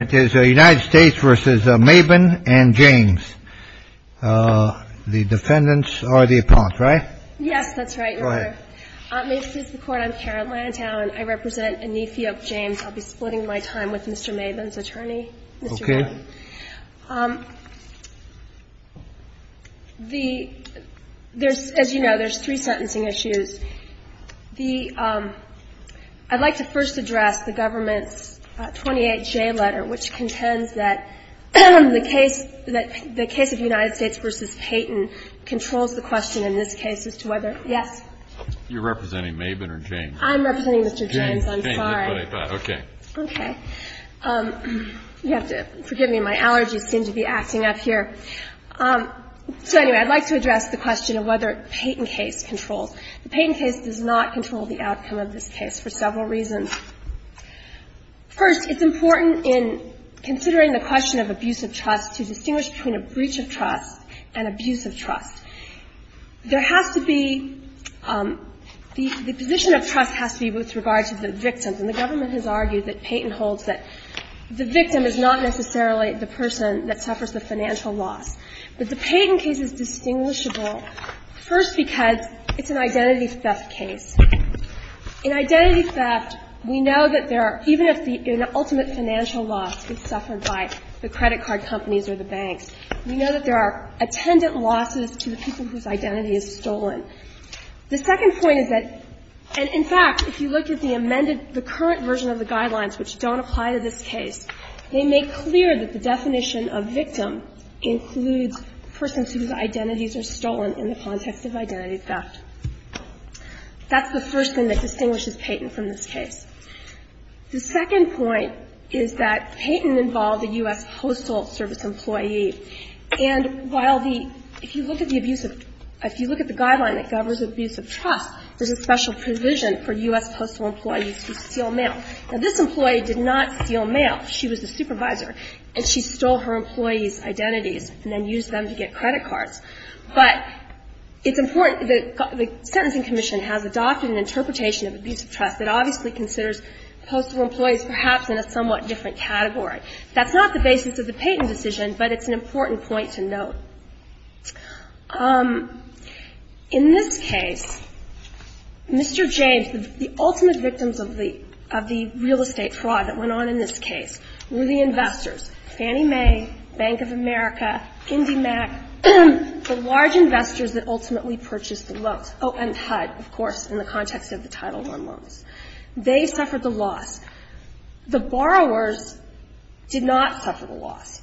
v. Maiben and James Yes, that's right, your honor. This is the court, I'm Karen Lantown, I represent Anithiok James. I'll be splitting my time with Mr. Maiben's attorney. Okay. As you know, there's three sentencing issues. I'd like to first address the government's 28J letter, which contends that the case of United States v. Payton controls the question in this case as to whether Yes? You're representing Maiben or James? I'm representing Mr. James, I'm sorry. Okay. Okay. You have to forgive me, my allergies seem to be acting up here. So anyway, I'd like to address the question of whether Payton case controls. The Payton case does not control the outcome of this case for several reasons. First, it's important in considering the question of abuse of trust to distinguish between a breach of trust and abuse of trust. There has to be the position of trust has to be with regard to the victim. And the government has argued that Payton holds that the victim is not necessarily the person that suffers the financial loss. But the Payton case is distinguishable, first, because it's an identity theft case. In identity theft, we know that there are, even if the ultimate financial loss is suffered by the credit card companies or the banks, we know that there are attendant losses to the people whose identity is stolen. The second point is that, and in fact, if you look at the amended, the current version of the guidelines which don't apply to this case, they make clear that the abuse of trust includes persons whose identities are stolen in the context of identity theft. That's the first thing that distinguishes Payton from this case. The second point is that Payton involved a U.S. Postal Service employee. And while the, if you look at the abusive, if you look at the guideline that governs abuse of trust, there's a special provision for U.S. Postal employees to steal mail. Now, this employee did not steal mail. She was the supervisor. And she stole her employee's identities and then used them to get credit cards. But it's important that the Sentencing Commission has adopted an interpretation of abusive trust that obviously considers postal employees perhaps in a somewhat different category. That's not the basis of the Payton decision, but it's an important point to note. In this case, Mr. James, the ultimate victims of the real estate fraud that went on in this case were the investors, Fannie Mae, Bank of America, IndyMac, the large investors that ultimately purchased the loans. Oh, and HUD, of course, in the context of the Title I loans. They suffered the loss. The borrowers did not suffer the loss.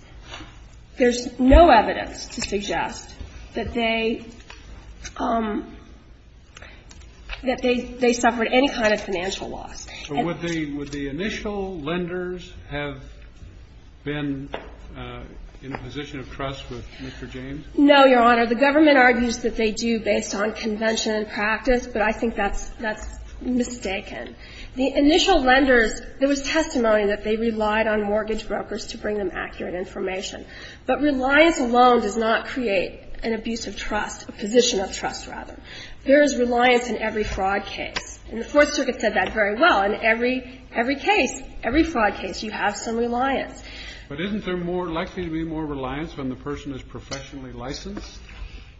There's no evidence to suggest that they, that they suffered any kind of financial loss. So would the initial lenders have been in a position of trust with Mr. James? No, Your Honor. The government argues that they do based on convention and practice, but I think that's mistaken. The initial lenders, there was testimony that they relied on mortgage brokers to bring them accurate information. But reliance alone does not create an abusive trust, a position of trust, rather. There is reliance in every fraud case. And the Fourth Circuit said that very well. In every case, every fraud case, you have some reliance. But isn't there more likely to be more reliance when the person is professionally licensed?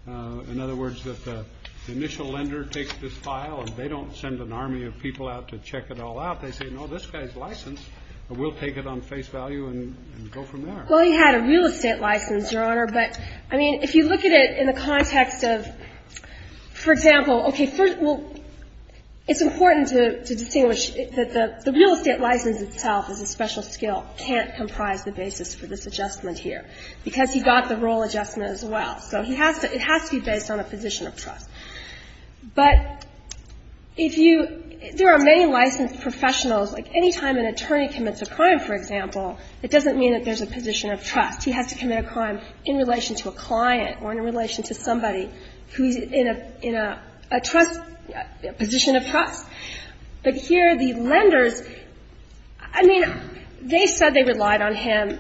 In other words, that the initial lender takes this file and they don't send an army of people out to check it all out. They say, no, this guy's licensed, and we'll take it on face value and go from there. Well, he had a real estate license, Your Honor. But, I mean, if you look at it in the context of, for example, okay, first, well, it's important to distinguish that the real estate license itself is a special skill, can't comprise the basis for this adjustment here, because he got the role adjustment as well. So he has to be based on a position of trust. But if you – there are many licensed professionals, like any time an attorney commits a crime, for example, it doesn't mean that there's a position of trust. He has to commit a crime in relation to a client or in relation to somebody who's in a trust – position of trust. But here the lenders, I mean, they said they relied on him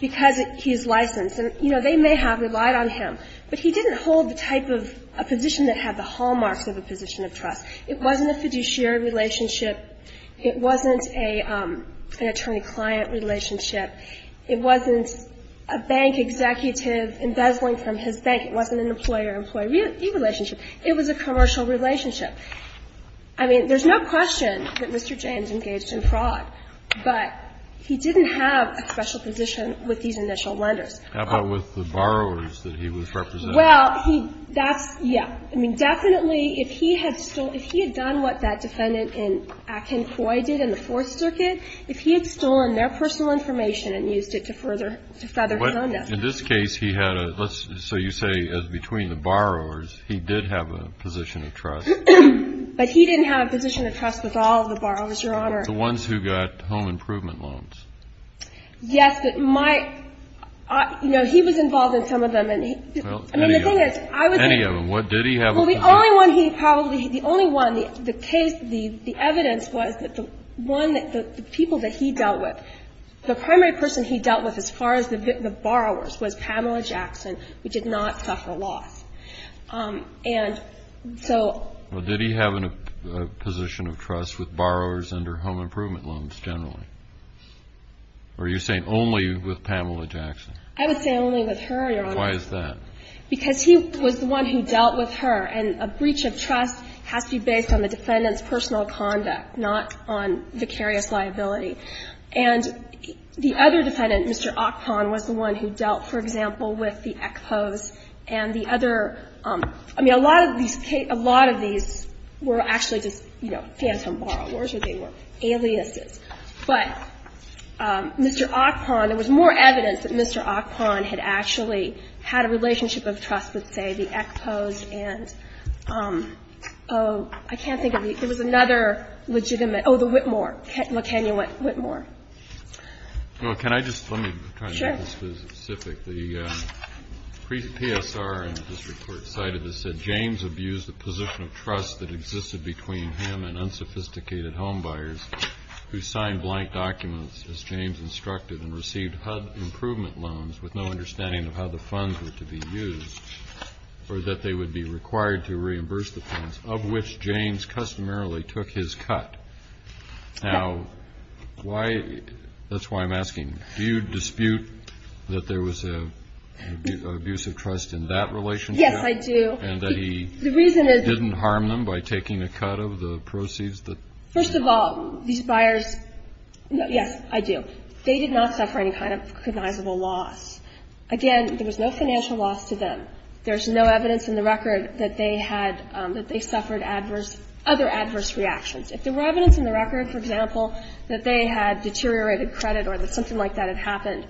because he's licensed. And, you know, they may have relied on him, but he didn't hold the type of position that had the hallmarks of a position of trust. It wasn't a fiduciary relationship. It wasn't an attorney-client relationship. It wasn't a bank executive embezzling from his bank. It wasn't an employer-employee relationship. It was a commercial relationship. I mean, there's no question that Mr. James engaged in fraud, but he didn't have a special position with these initial lenders. How about with the borrowers that he was representing? Well, he – that's – yeah. I mean, definitely if he had stolen – if he had done what that defendant in Akin Coy did in the Fourth Circuit, if he had stolen their personal information and used it to further his own death. But in this case, he had a – let's – so you say as between the borrowers, he did have a position of trust. But he didn't have a position of trust with all of the borrowers, Your Honor. The ones who got home improvement loans. Yes, but my – you know, he was involved in some of them, and he – Well, any of them. I mean, the thing is, I was – Any of them. What did he have a position – Well, the only one he probably – the only one, the case, the evidence was that the one – the people that he dealt with, the primary person he dealt with as far as the borrowers was Pamela Jackson, who did not suffer loss. And so – Well, did he have a position of trust with borrowers and her home improvement loans generally? Or are you saying only with Pamela Jackson? I would say only with her, Your Honor. Why is that? Because he was the one who dealt with her, and a breach of trust has to be based on the defendant's personal conduct, not on vicarious liability. And the other defendant, Mr. Ockpon, was the one who dealt, for example, with the EXPOS and the other – I mean, a lot of these – a lot of these were actually just, you know, phantom borrowers, or they were aliases. But Mr. Ockpon, there was more evidence that Mr. Ockpon had actually had a relationship of trust with, say, the EXPOS and – oh, I can't think of the – there was another legitimate – oh, the Whitmore, McKenna Whitmore. Well, can I just – let me try to make this specific. The PSR in this report cited this, said, James abused the position of trust that existed between him and unsophisticated homebuyers who signed blank documents, as James instructed, and received HUD improvement loans with no understanding of how the funds were to be used, or that they would be required to reimburse the funds, of which James customarily took his cut. Now, why – that's why I'm asking. Do you dispute that there was an abuse of trust in that relationship? Yes, I do. And that he didn't harm them by taking a cut of the proceeds that – First of all, these buyers – yes, I do. They did not suffer any kind of cognizable loss. Again, there was no financial loss to them. There's no evidence in the record that they had – that they suffered adverse – other adverse reactions. If there were evidence in the record, for example, that they had deteriorated credit or that something like that had happened,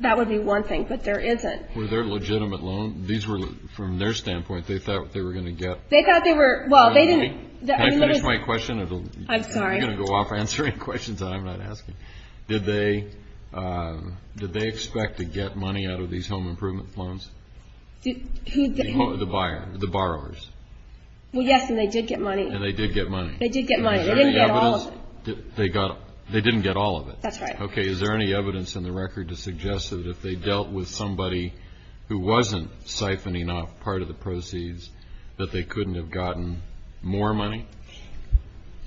that would be one thing. But there isn't. Were there legitimate loans? These were – from their standpoint, they thought they were going to get – They thought they were – well, they didn't – I mean, there was – Can I finish my question? I'm sorry. You're going to go off answering questions that I'm not asking. Did they – did they expect to get money out of these home improvement loans? Who – The buyer – the borrowers. Well, yes, and they did get money. And they did get money. They did get money. They didn't get all of it. Is there any evidence – they got – they didn't get all of it. That's right. Okay. Is there any evidence in the record to suggest that if they dealt with somebody who wasn't siphoning off part of the proceeds, that they couldn't have gotten more money?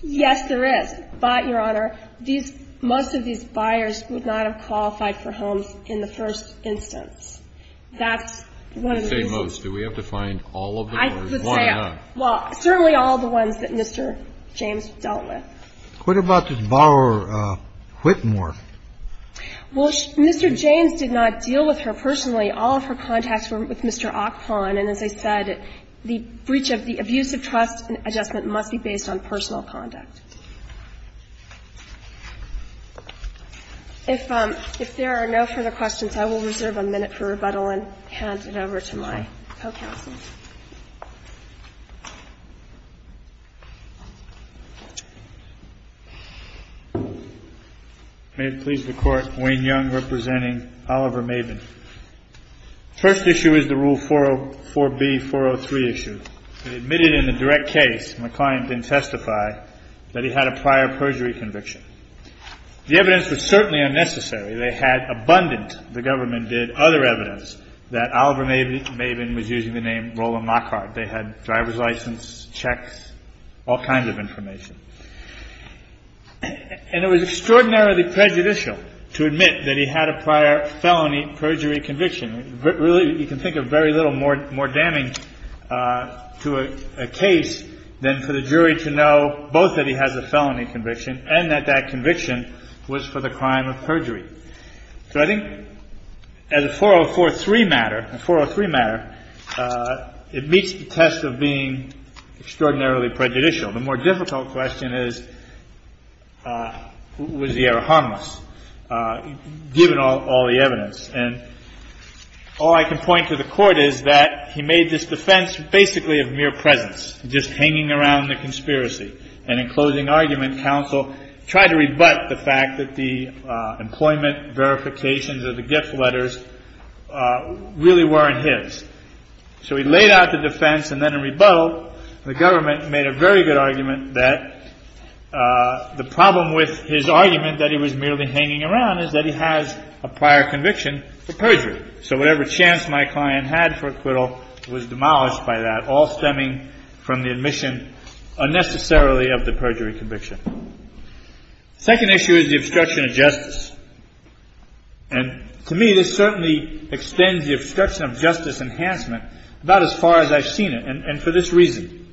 Yes, there is. But, Your Honor, these – most of these buyers would not have qualified for homes in the first instance. That's one of the reasons. You say most. Do we have to find all of them or one or not? I would say – well, certainly all the ones that Mr. James dealt with. What about this borrower Whitmore? Well, Mr. James did not deal with her personally. All of her contacts were with Mr. Ockpon. And as I said, the breach of the abuse of trust adjustment must be based on personal conduct. If there are no further questions, I will reserve a minute for rebuttal and hand it over to my co-counsel. May it please the Court. Wayne Young representing Oliver Maven. First issue is the Rule 404B, 403 issue. It admitted in the direct case, my client didn't testify, that he had a prior perjury conviction. The evidence was certainly unnecessary. They had abundant – the government did – other evidence that Oliver Maven was using the name Roland Lockhart. They had driver's license, checks, all kinds of information. And it was extraordinarily prejudicial to admit that he had a prior felony perjury conviction. You can think of very little more damage to a case than for the jury to know both that he has a felony conviction and that that conviction was for the crime of perjury. So I think as a 403 matter, it meets the test of being extraordinarily prejudicial. The more difficult question is, was he ever harmless, given all the evidence? And all I can point to the Court is that he made this defense basically of mere presence, just hanging around the conspiracy. And in closing argument, counsel tried to rebut the fact that the employment verifications of the gift letters really weren't his. So he laid out the defense, and then in rebuttal, the government made a very good argument that the problem with his argument that he was merely hanging around is that he has a prior conviction for perjury. So whatever chance my client had for acquittal was demolished by that, all stemming from the admission unnecessarily of the perjury conviction. The second issue is the obstruction of justice. And to me, this certainly extends the obstruction of justice enhancement about as far as I've seen it, and for this reason.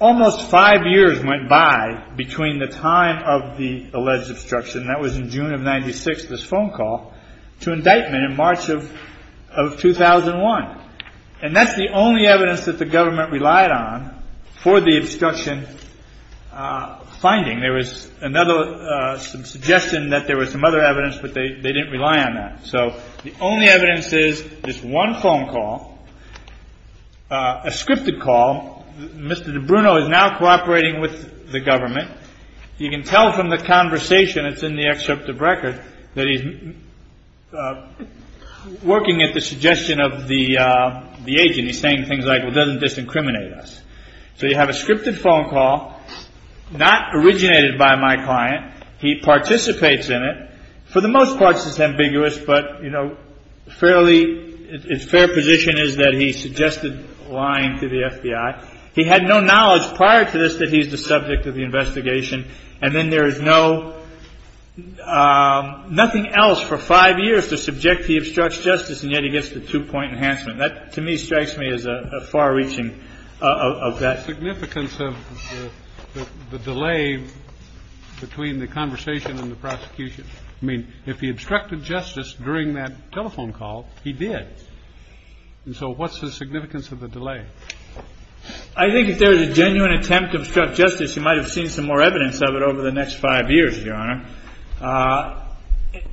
Almost five years went by between the time of the alleged obstruction, and that was in June of 1996, this phone call, to indictment in March of 2001. And that's the only evidence that the government relied on for the obstruction finding. There was another suggestion that there was some other evidence, but they didn't rely on that. So the only evidence is this one phone call, a scripted call. Mr. De Bruno is now cooperating with the government. You can tell from the conversation that's in the excerpt of record that he's working at the suggestion of the agent. He's saying things like, well, it doesn't disincriminate us. So you have a scripted phone call, not originated by my client. He participates in it. For the most part, this is ambiguous, but, you know, fairly, his fair position is that he suggested lying to the FBI. He had no knowledge prior to this that he's the subject of the investigation. And then there is no ñ nothing else for five years to subject the obstructs justice, and yet he gets the two-point enhancement. That, to me, strikes me as a far-reaching of that. What's the significance of the delay between the conversation and the prosecution? I mean, if he obstructed justice during that telephone call, he did. And so what's the significance of the delay? I think if there was a genuine attempt to obstruct justice, you might have seen some more evidence of it over the next five years, Your Honor.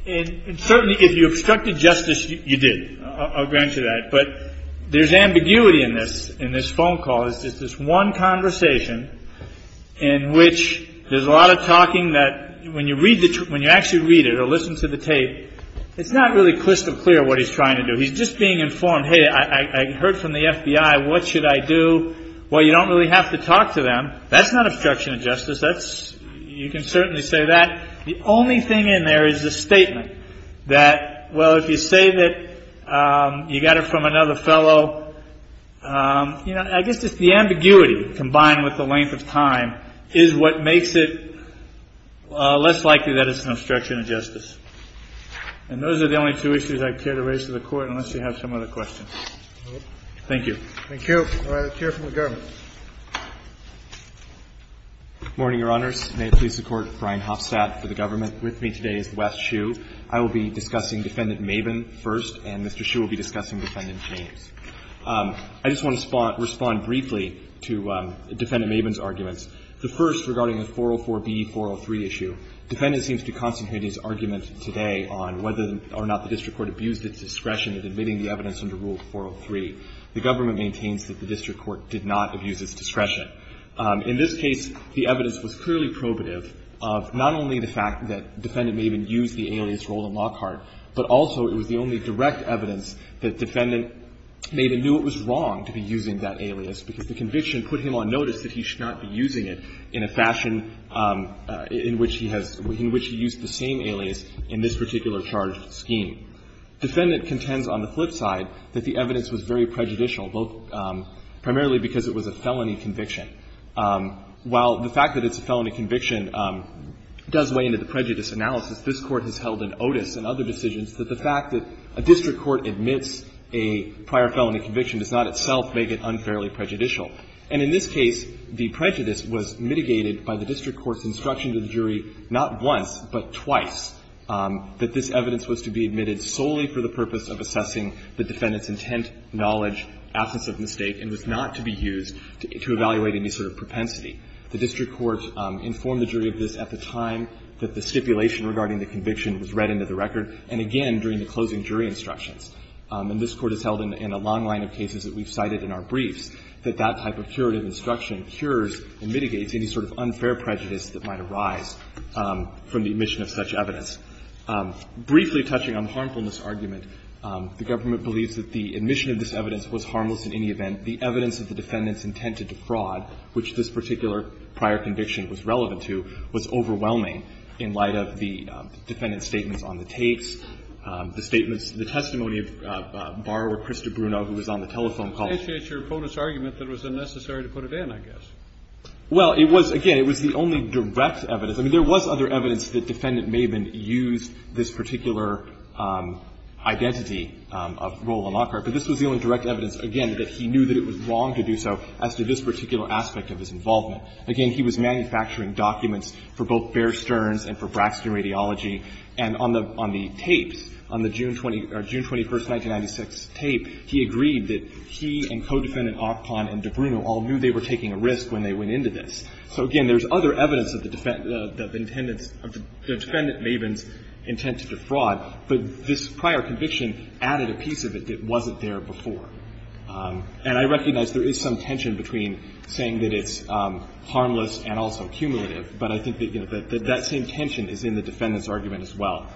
And certainly if you obstructed justice, you did. I'll grant you that. But there's ambiguity in this phone call. It's just this one conversation in which there's a lot of talking that, when you actually read it or listen to the tape, it's not really crystal clear what he's trying to do. He's just being informed, hey, I heard from the FBI. What should I do? Well, you don't really have to talk to them. That's not obstruction of justice. You can certainly say that. The only thing in there is the statement that, well, if you say that you got it from another fellow, you know, I guess it's the ambiguity combined with the length of time is what makes it less likely that it's an obstruction of justice. And those are the only two issues I care to raise to the Court, unless you have some other questions. Thank you. Thank you. All right. Let's hear from the government. Morning, Your Honors. May it please the Court. Brian Hofstadt for the government. With me today is Wes Shue. I will be discussing Defendant Maven first, and Mr. Shue will be discussing Defendant James. I just want to respond briefly to Defendant Maven's arguments. The first regarding the 404B-403 issue. Defendant seems to constitute his argument today on whether or not the district court abused its discretion in admitting the evidence under Rule 403. The government maintains that the district court did not abuse its discretion. In this case, the evidence was clearly probative of not only the fact that Defendant Maven knew it was wrong to be using that alias, because the conviction put him on notice that he should not be using it in a fashion in which he has – in which he used the same alias in this particular charge scheme. Defendant contends on the flip side that the evidence was very prejudicial, both primarily because it was a felony conviction. While the fact that it's a felony conviction does weigh into the prejudice analysis, this Court has held in Otis and other decisions that the fact that a district court admits a prior felony conviction does not itself make it unfairly prejudicial. And in this case, the prejudice was mitigated by the district court's instruction to the jury not once, but twice, that this evidence was to be admitted solely for the purpose of assessing the defendant's intent, knowledge, absence of mistake, and was not to be used to evaluate any sort of propensity. The district court informed the jury of this at the time that the stipulation regarding the conviction was read into the record, and again, during the closing jury instructions. And this Court has held in a long line of cases that we've cited in our briefs that that type of curative instruction cures or mitigates any sort of unfair prejudice that might arise from the admission of such evidence. Briefly touching on the harmfulness argument, the government believes that the admission of this evidence was harmless in any event. And the evidence of the defendant's intent to defraud, which this particular prior conviction was relevant to, was overwhelming in light of the defendant's statements on the tapes, the statements, the testimony of borrower Krista Bruno, who was on the telephone call. Kennedy. It's your bonus argument that it was unnecessary to put it in, I guess. Well, it was, again, it was the only direct evidence. I mean, there was other evidence that Defendant Maben used this particular identity of Roland Lockhart. But this was the only direct evidence, again, that he knew that it was wrong to do so as to this particular aspect of his involvement. Again, he was manufacturing documents for both Bear Stearns and for Braxton Radiology. And on the tapes, on the June 21, 1996 tape, he agreed that he and Codefendant Ockpon and De Bruno all knew they were taking a risk when they went into this. So, again, there's other evidence of the defendant's intent to defraud. But this prior conviction added a piece of it that wasn't there before. And I recognize there is some tension between saying that it's harmless and also cumulative, but I think that, you know, that that same tension is in the defendant's argument as well.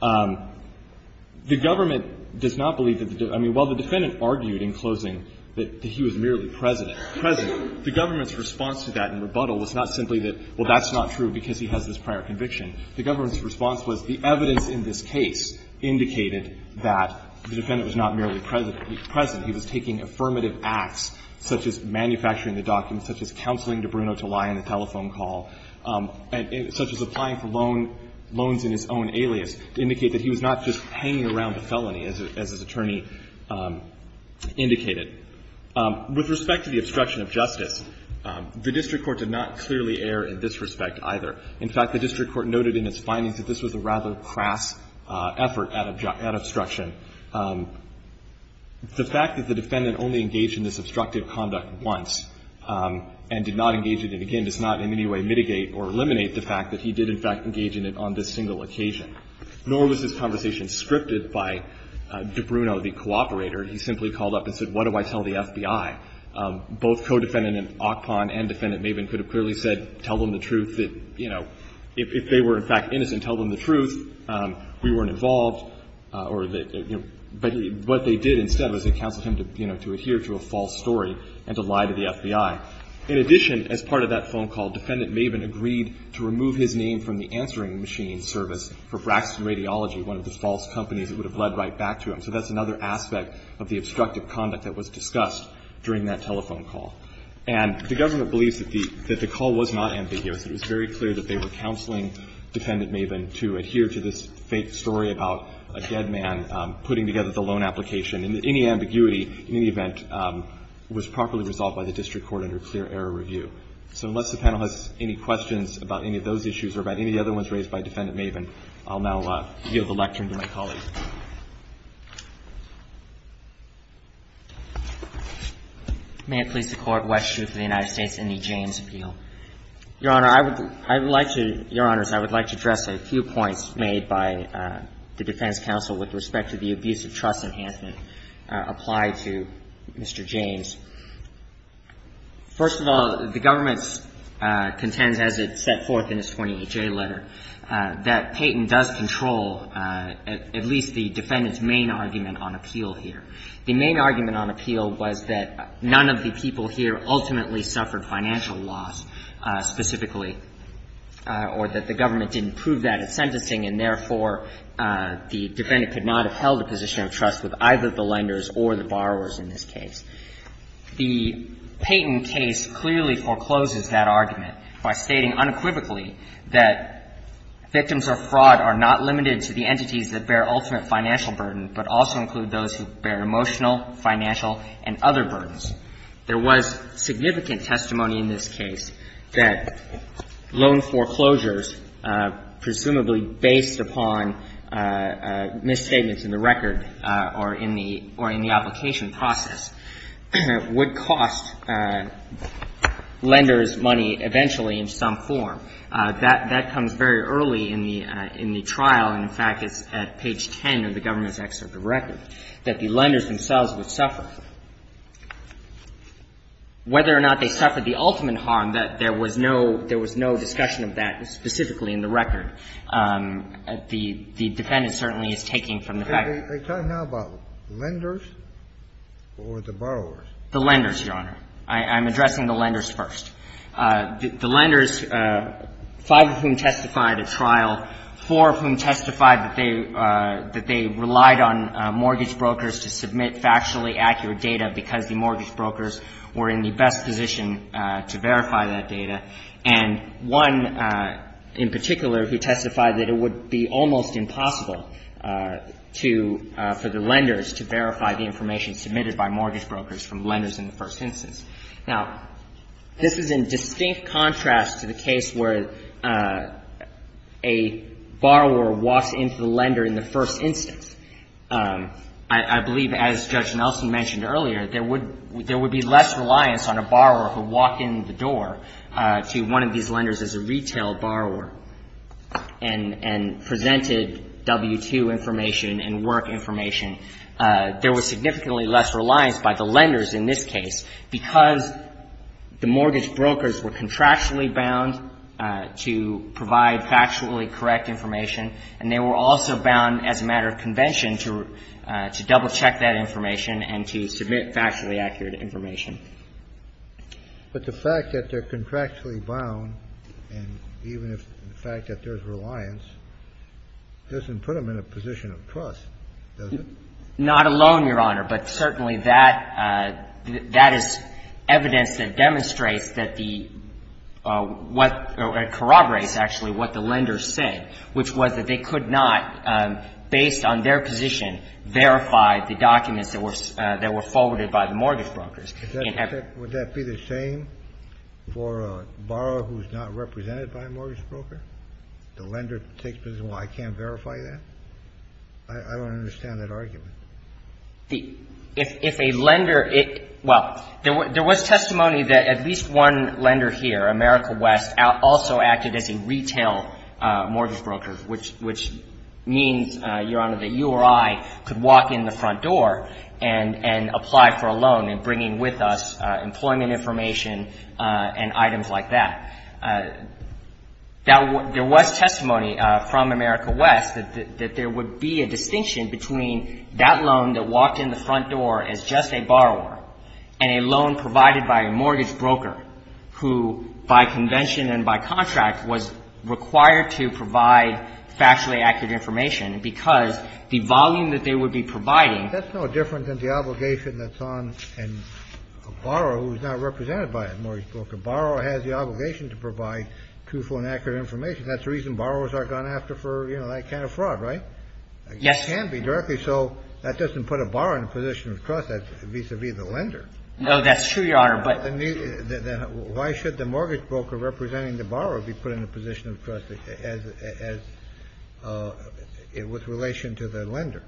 The government does not believe that the defendant – I mean, while the defendant argued in closing that he was merely present, the government's response to that in rebuttal was not simply that, well, that's not true because he has this prior conviction. The government's response was the evidence in this case indicated that the defendant was not merely present. He was taking affirmative acts such as manufacturing the documents, such as counseling De Bruno to lie on the telephone call, such as applying for loans in his own alias to indicate that he was not just hanging around a felony, as his attorney indicated. With respect to the obstruction of justice, the district court did not clearly err in this respect either. In fact, the district court noted in its findings that this was a rather crass effort at obstruction. The fact that the defendant only engaged in this obstructive conduct once and did not engage in it again does not in any way mitigate or eliminate the fact that he did, in fact, engage in it on this single occasion. Nor was this conversation scripted by De Bruno, the cooperator. He simply called up and said, what do I tell the FBI? Both Codefendant Ockpon and Defendant Maven could have clearly said, tell them the truth. If they were, in fact, innocent, tell them the truth. We weren't involved. But what they did instead was they counseled him to adhere to a false story and to lie to the FBI. In addition, as part of that phone call, Defendant Maven agreed to remove his name from the answering machine service for Braxton Radiology, one of the false companies that would have led right back to him. So that's another aspect of the obstructive conduct that was discussed during that telephone call. And the government believes that the call was not ambiguous. It was very clear that they were counseling Defendant Maven to adhere to this fake story about a dead man putting together the loan application. And any ambiguity, in any event, was properly resolved by the district court under clear error review. So unless the panel has any questions about any of those issues or about any of the other ones raised by Defendant Maven, I'll now yield the lectern to my colleagues. May it please the Court, West Street v. The United States in the James Appeal. Your Honor, I would like to – Your Honors, I would like to address a few points made by the defense counsel with respect to the abuse of trust enhancement applied to Mr. James. First of all, the government contends, as it set forth in its 28J letter, that Payton does control at least the defendant's main argument on appeal here. The main argument on appeal was that none of the people here ultimately suffered financial loss specifically, or that the government didn't prove that at sentencing and, therefore, the defendant could not have held a position of trust with either the lenders or the borrowers in this case. The Payton case clearly forecloses that argument by stating unequivocally that victims of fraud are not limited to the entities that bear ultimate financial burden, but also include those who bear emotional, financial, and other burdens. There was significant testimony in this case that loan foreclosures, presumably based upon misstatements in the record or in the – or in the application process, would cost lenders money eventually in some form. That comes very early in the trial, and, in fact, it's at page 10 of the government's text of the record, that the lenders themselves would suffer. Whether or not they suffered the ultimate harm, that there was no – there was no discussion of that specifically in the record. The defendant certainly is taking from the fact that they suffered the ultimate harm. The lenders, Your Honor. I'm addressing the lenders first. The lenders, five of whom testified at trial, four of whom testified that they – that they relied on mortgage brokers to submit factually accurate data because the mortgage brokers were in the best position to verify that data, and one, in particular, who testified that it would be almost impossible to – for the lenders to verify the information submitted by mortgage brokers from lenders in the first instance. Now, this is in distinct contrast to the case where a borrower walks into the lender in the first instance. I believe, as Judge Nelson mentioned earlier, there would be less reliance on a borrower who walked in the door to one of these lenders as a retail borrower and presented W-2 information and work information. There was significantly less reliance by the lenders in this case because the mortgage brokers were contractually bound to provide factually correct information, and they were also bound as a matter of convention to double-check that information and to submit factually accurate information. But the fact that they're contractually bound, and even if – the fact that there's reliance doesn't put them in a position of trust, does it? Not alone, Your Honor. But certainly that – that is evidence that demonstrates that the – what – corroborates actually what the lenders said, which was that they could not, based on their position, verify the documents that were – that were forwarded by the mortgage brokers. Would that be the same for a borrower who's not represented by a mortgage broker? The lender takes position, well, I can't verify that? I don't understand that argument. If a lender – well, there was testimony that at least one lender here, America West, also acted as a retail mortgage broker, which means, Your Honor, that you or I could walk in the front door and apply for a loan in bringing with us employment information and items like that. There was testimony from America West that there would be a distinction between that loan that walked in the front door as just a borrower and a loan provided by a mortgage broker. And the lender, as I mentioned, and by contract, was required to provide factually accurate information because the volume that they would be providing – That's no different than the obligation that's on a borrower who's not represented by a mortgage broker. A borrower has the obligation to provide truthful and accurate information. That's the reason borrowers aren't going to have to, you know, that kind of fraud, right? Yes. It can be directly. So that doesn't put a borrower in a position of trust vis-à-vis the lender. No, that's true, Your Honor, but – Then why should the mortgage broker representing the borrower be put in a position of trust as – with relation to the lender?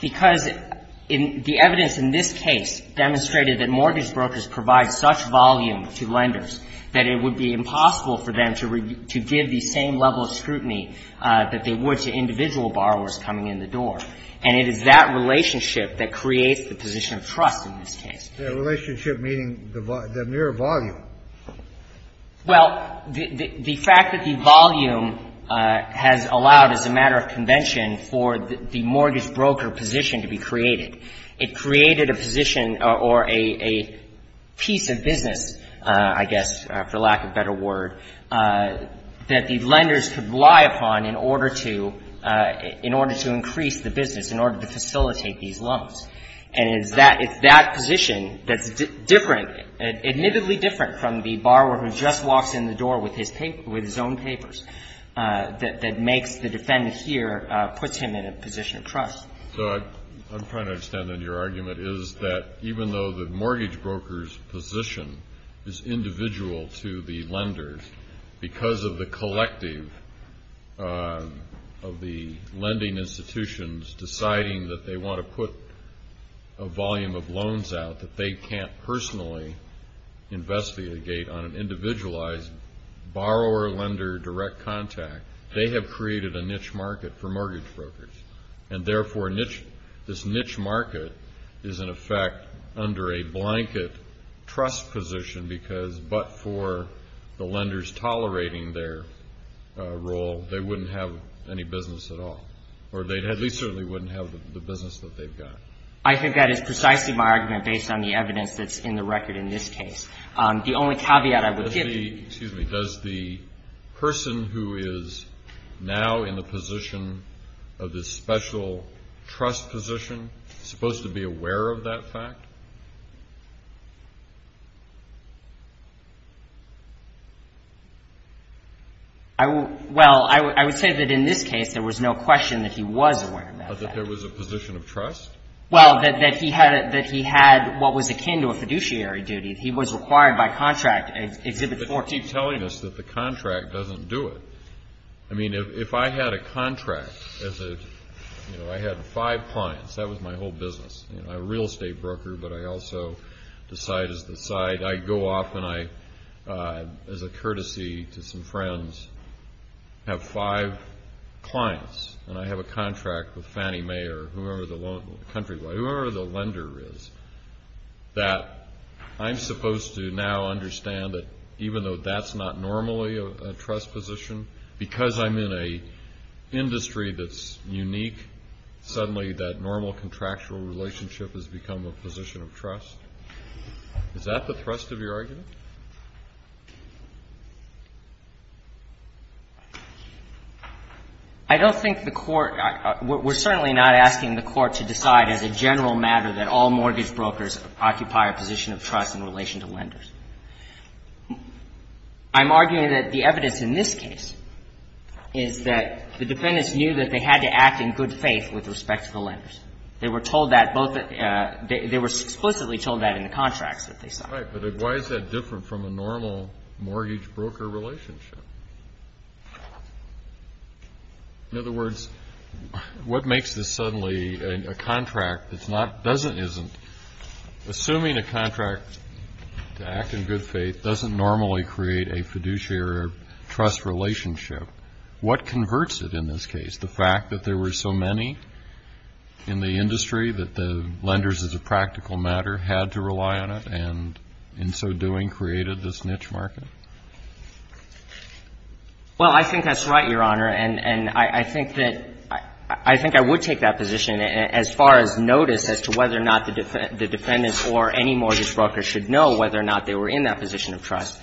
Because the evidence in this case demonstrated that mortgage brokers provide such volume to lenders that it would be impossible for them to give the same level of scrutiny that they would to individual borrowers coming in the door. And it is that relationship that creates the position of trust in this case. The relationship meaning the mere volume. Well, the fact that the volume has allowed as a matter of convention for the mortgage broker position to be created, it created a position or a piece of business, I guess, for lack of a better word, that the lenders could rely upon in order to increase the business, in order to facilitate these loans. And it's that position that's different, admittedly different from the borrower who just walks in the door with his own papers that makes the defendant here, puts him in a position of trust. So I'm trying to understand then your argument is that even though the mortgage broker's position is individual to the lenders because of the collective of the lending institutions deciding that they want to put a volume of loans out that they can't personally investigate on an individualized borrower-lender direct contact, they have created a niche market for mortgage brokers. And therefore, this niche market is in effect under a blanket trust position because but for the lenders tolerating their role, they wouldn't have any business at all. Or they at least certainly wouldn't have the business that they've got. I think that is precisely my argument based on the evidence that's in the record in this case. The only caveat I would give you. Excuse me. Does the person who is now in the position of this special trust position supposed to be aware of that fact? Well, I would say that in this case there was no question that he was aware of that. But that there was a position of trust? Well, that he had what was akin to a fiduciary duty. He was required by contract Exhibit 4. But you keep telling us that the contract doesn't do it. I mean, if I had a contract as a, you know, I had five clients. That was my whole business. I'm a real estate broker, but I also decide as the side. I go off and I, as a courtesy to some friends, have five clients. And I have a contract with Fannie Mae or whoever the country, whoever the lender is, that I'm supposed to now understand that even though that's not normally a trust position, because I'm in an industry that's unique, suddenly that normal contractual relationship has become a position of trust. Is that the thrust of your argument? I don't think the Court we're certainly not asking the Court to decide as a general matter that all mortgage brokers occupy a position of trust in relation to lenders. I'm arguing that the evidence in this case is that the defendants knew that they had to act in good faith with respect to the lenders. They were told that both at the – they were explicitly told that in the contracts that they signed. Right. But why is that different from a normal mortgage broker relationship? In other words, what makes this suddenly a contract that's not, doesn't, isn't? Assuming a contract to act in good faith doesn't normally create a fiduciary trust relationship, what converts it in this case? The fact that there were so many in the industry that the lenders, as a practical matter, had to rely on it and in so doing created this niche market? Well, I think that's right, Your Honor. And I think that – I think I would take that position as far as notice as to whether or not the defendants or any mortgage broker should know whether or not they were in that position of trust.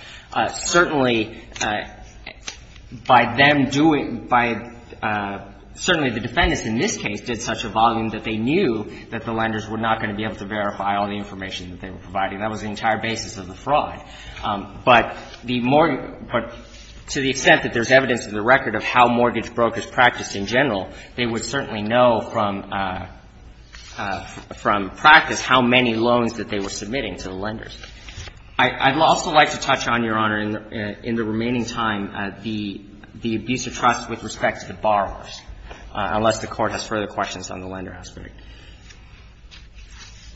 Certainly, by them doing – by – certainly the defendants in this case did such a volume that they knew that the lenders were not going to be able to verify all the information that they were providing. That was the entire basis of the fraud. But the – to the extent that there's evidence in the record of how mortgage brokers practiced in general, they would certainly know from practice how many loans that they were submitting to the lenders. I'd also like to touch on, Your Honor, in the remaining time, the abuse of trust with respect to the borrowers, unless the Court has further questions on the lender aspect.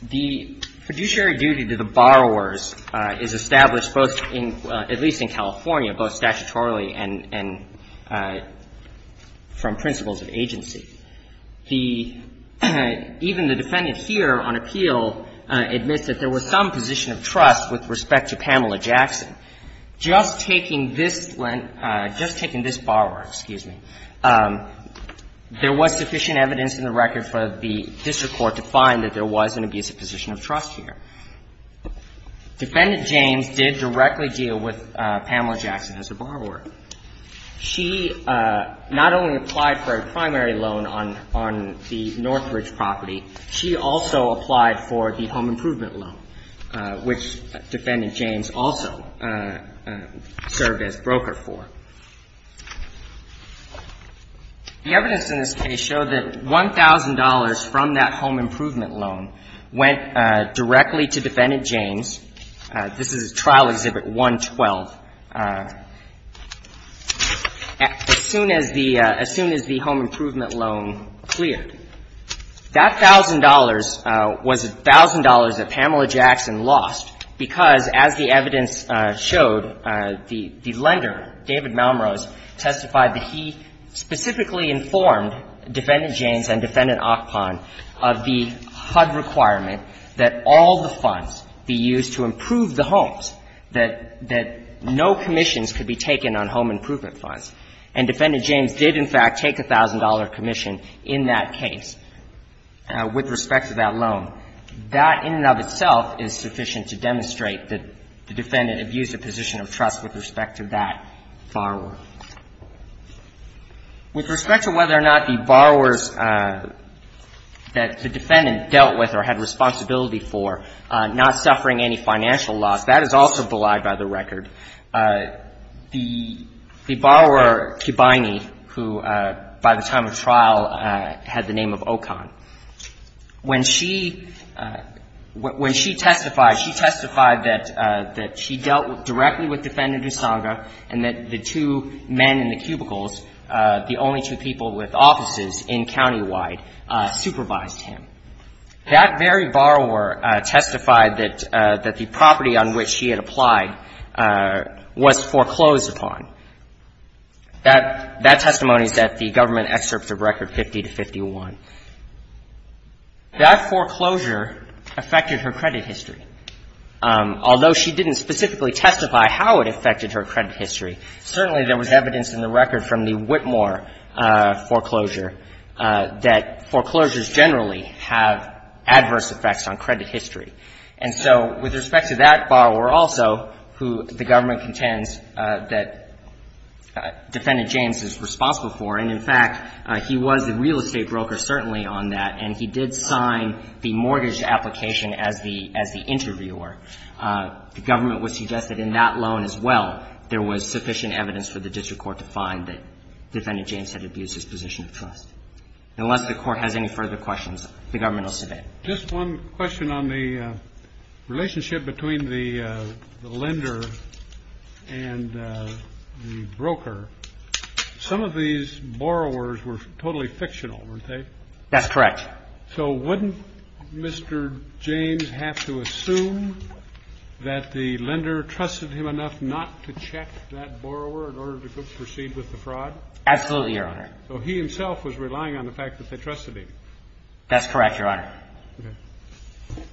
The fiduciary duty to the borrowers is established both in – at least in California, both statutorily and from principles of agency. The – even the defendant here on appeal admits that there was some position of trust with respect to Pamela Jackson. Just taking this – just taking this borrower, excuse me, there was sufficient evidence in the record for the district court to find that there was an abusive position of trust here. Defendant James did directly deal with Pamela Jackson as a borrower. She not only applied for a primary loan on the Northridge property, she also applied for the home improvement loan, which Defendant James also served as broker for. The evidence in this case showed that $1,000 from that home improvement loan went directly to Defendant James. This is trial Exhibit 112. As soon as the – as soon as the home improvement loan cleared, that $1,000 was $1,000 that Pamela Jackson lost because, as the evidence showed, the lender, David Miller, was not a borrower. And the defendant, in fact, in the case of the $1,000 loan, testified that he specifically informed Defendant James and Defendant Ockpon of the HUD requirement that all the funds be used to improve the homes, that no commissions could be taken on home improvement And Defendant James did, in fact, take a $1,000 commission in that case with respect to that loan. That, in and of itself, is sufficient to demonstrate that the defendant abused a position of trust with respect to that borrower. With respect to whether or not the borrowers that the defendant dealt with or had responsibility for not suffering any financial loss, that is also belied by the record. The borrower, Kibiney, who by the time of trial had the name of Ockpon, when she was testified, she testified that she dealt directly with Defendant Usanga and that the two men in the cubicles, the only two people with offices in countywide, supervised him. That very borrower testified that the property on which she had applied was foreclosed upon. That testimony is at the government excerpts of Record 50 to 51. That foreclosure affected her credit history. Although she didn't specifically testify how it affected her credit history, certainly there was evidence in the record from the Whitmore foreclosure that foreclosures generally have adverse effects on credit history. And so with respect to that borrower also, who the government contends that Defendant James is responsible for, and in fact, he was the real estate broker certainly on that, and he did sign the mortgage application as the interviewer, the government would suggest that in that loan as well there was sufficient evidence for the district court to find that Defendant James had abused his position of trust. Unless the court has any further questions, the government will submit. Just one question on the relationship between the lender and the broker. Some of these borrowers were totally fictional, weren't they? That's correct. So wouldn't Mr. James have to assume that the lender trusted him enough not to check that borrower in order to proceed with the fraud? Absolutely, Your Honor. So he himself was relying on the fact that they trusted him. That's correct, Your Honor. Okay.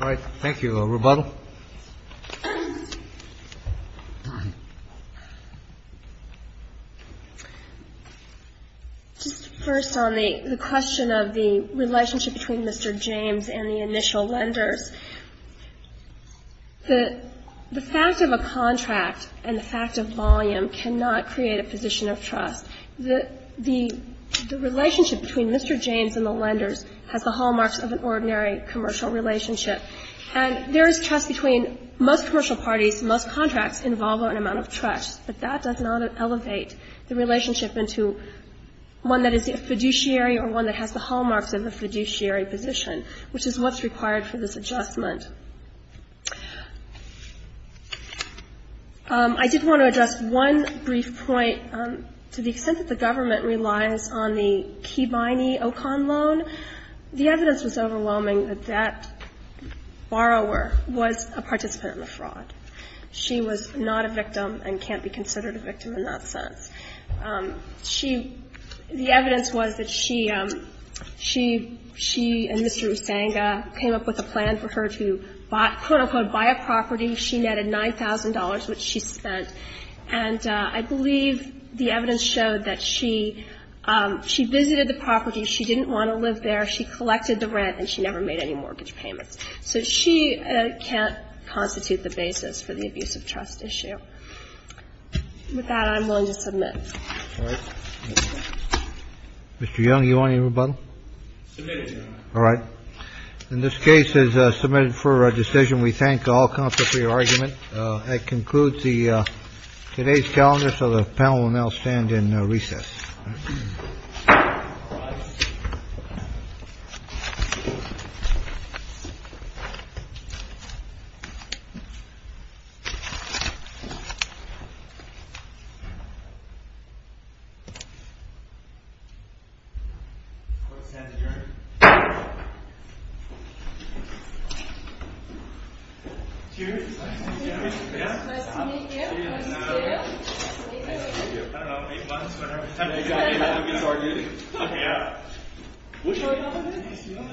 All right. Thank you. Rebuttal. Just first on the question of the relationship between Mr. James and the initial lenders, the fact of a contract and the fact of volume cannot create a position of trust. The relationship between Mr. James and the lenders has the hallmarks of an ordinary commercial relationship. And there is trust between most commercial parties. Most contracts involve an amount of trust. But that does not elevate the relationship into one that is a fiduciary or one that has the hallmarks of a fiduciary position, which is what's required for this adjustment. I did want to address one brief point. To the extent that the government relies on the Kibiney Ocon loan, the evidence was overwhelming that that borrower was a participant in the fraud. She was not a victim and can't be considered a victim in that sense. She – the evidence was that she and Mr. Usanga came up with a plan for her to, quote, unquote, buy a property. She netted $9,000, which she spent. And I believe the evidence showed that she visited the property. She didn't want to live there. She collected the rent and she never made any mortgage payments. So she can't constitute the basis for the abuse of trust issue. With that, I'm willing to submit. All right. Mr. Young, do you want any rebuttal? Submitted, Your Honor. All right. Then this case is submitted for decision. We thank all counsel for your argument. That concludes the – today's calendar, so the panel will now stand in recess. All rise. Cheers. Nice to meet you. Nice to meet you. Nice to meet you. Nice to meet you.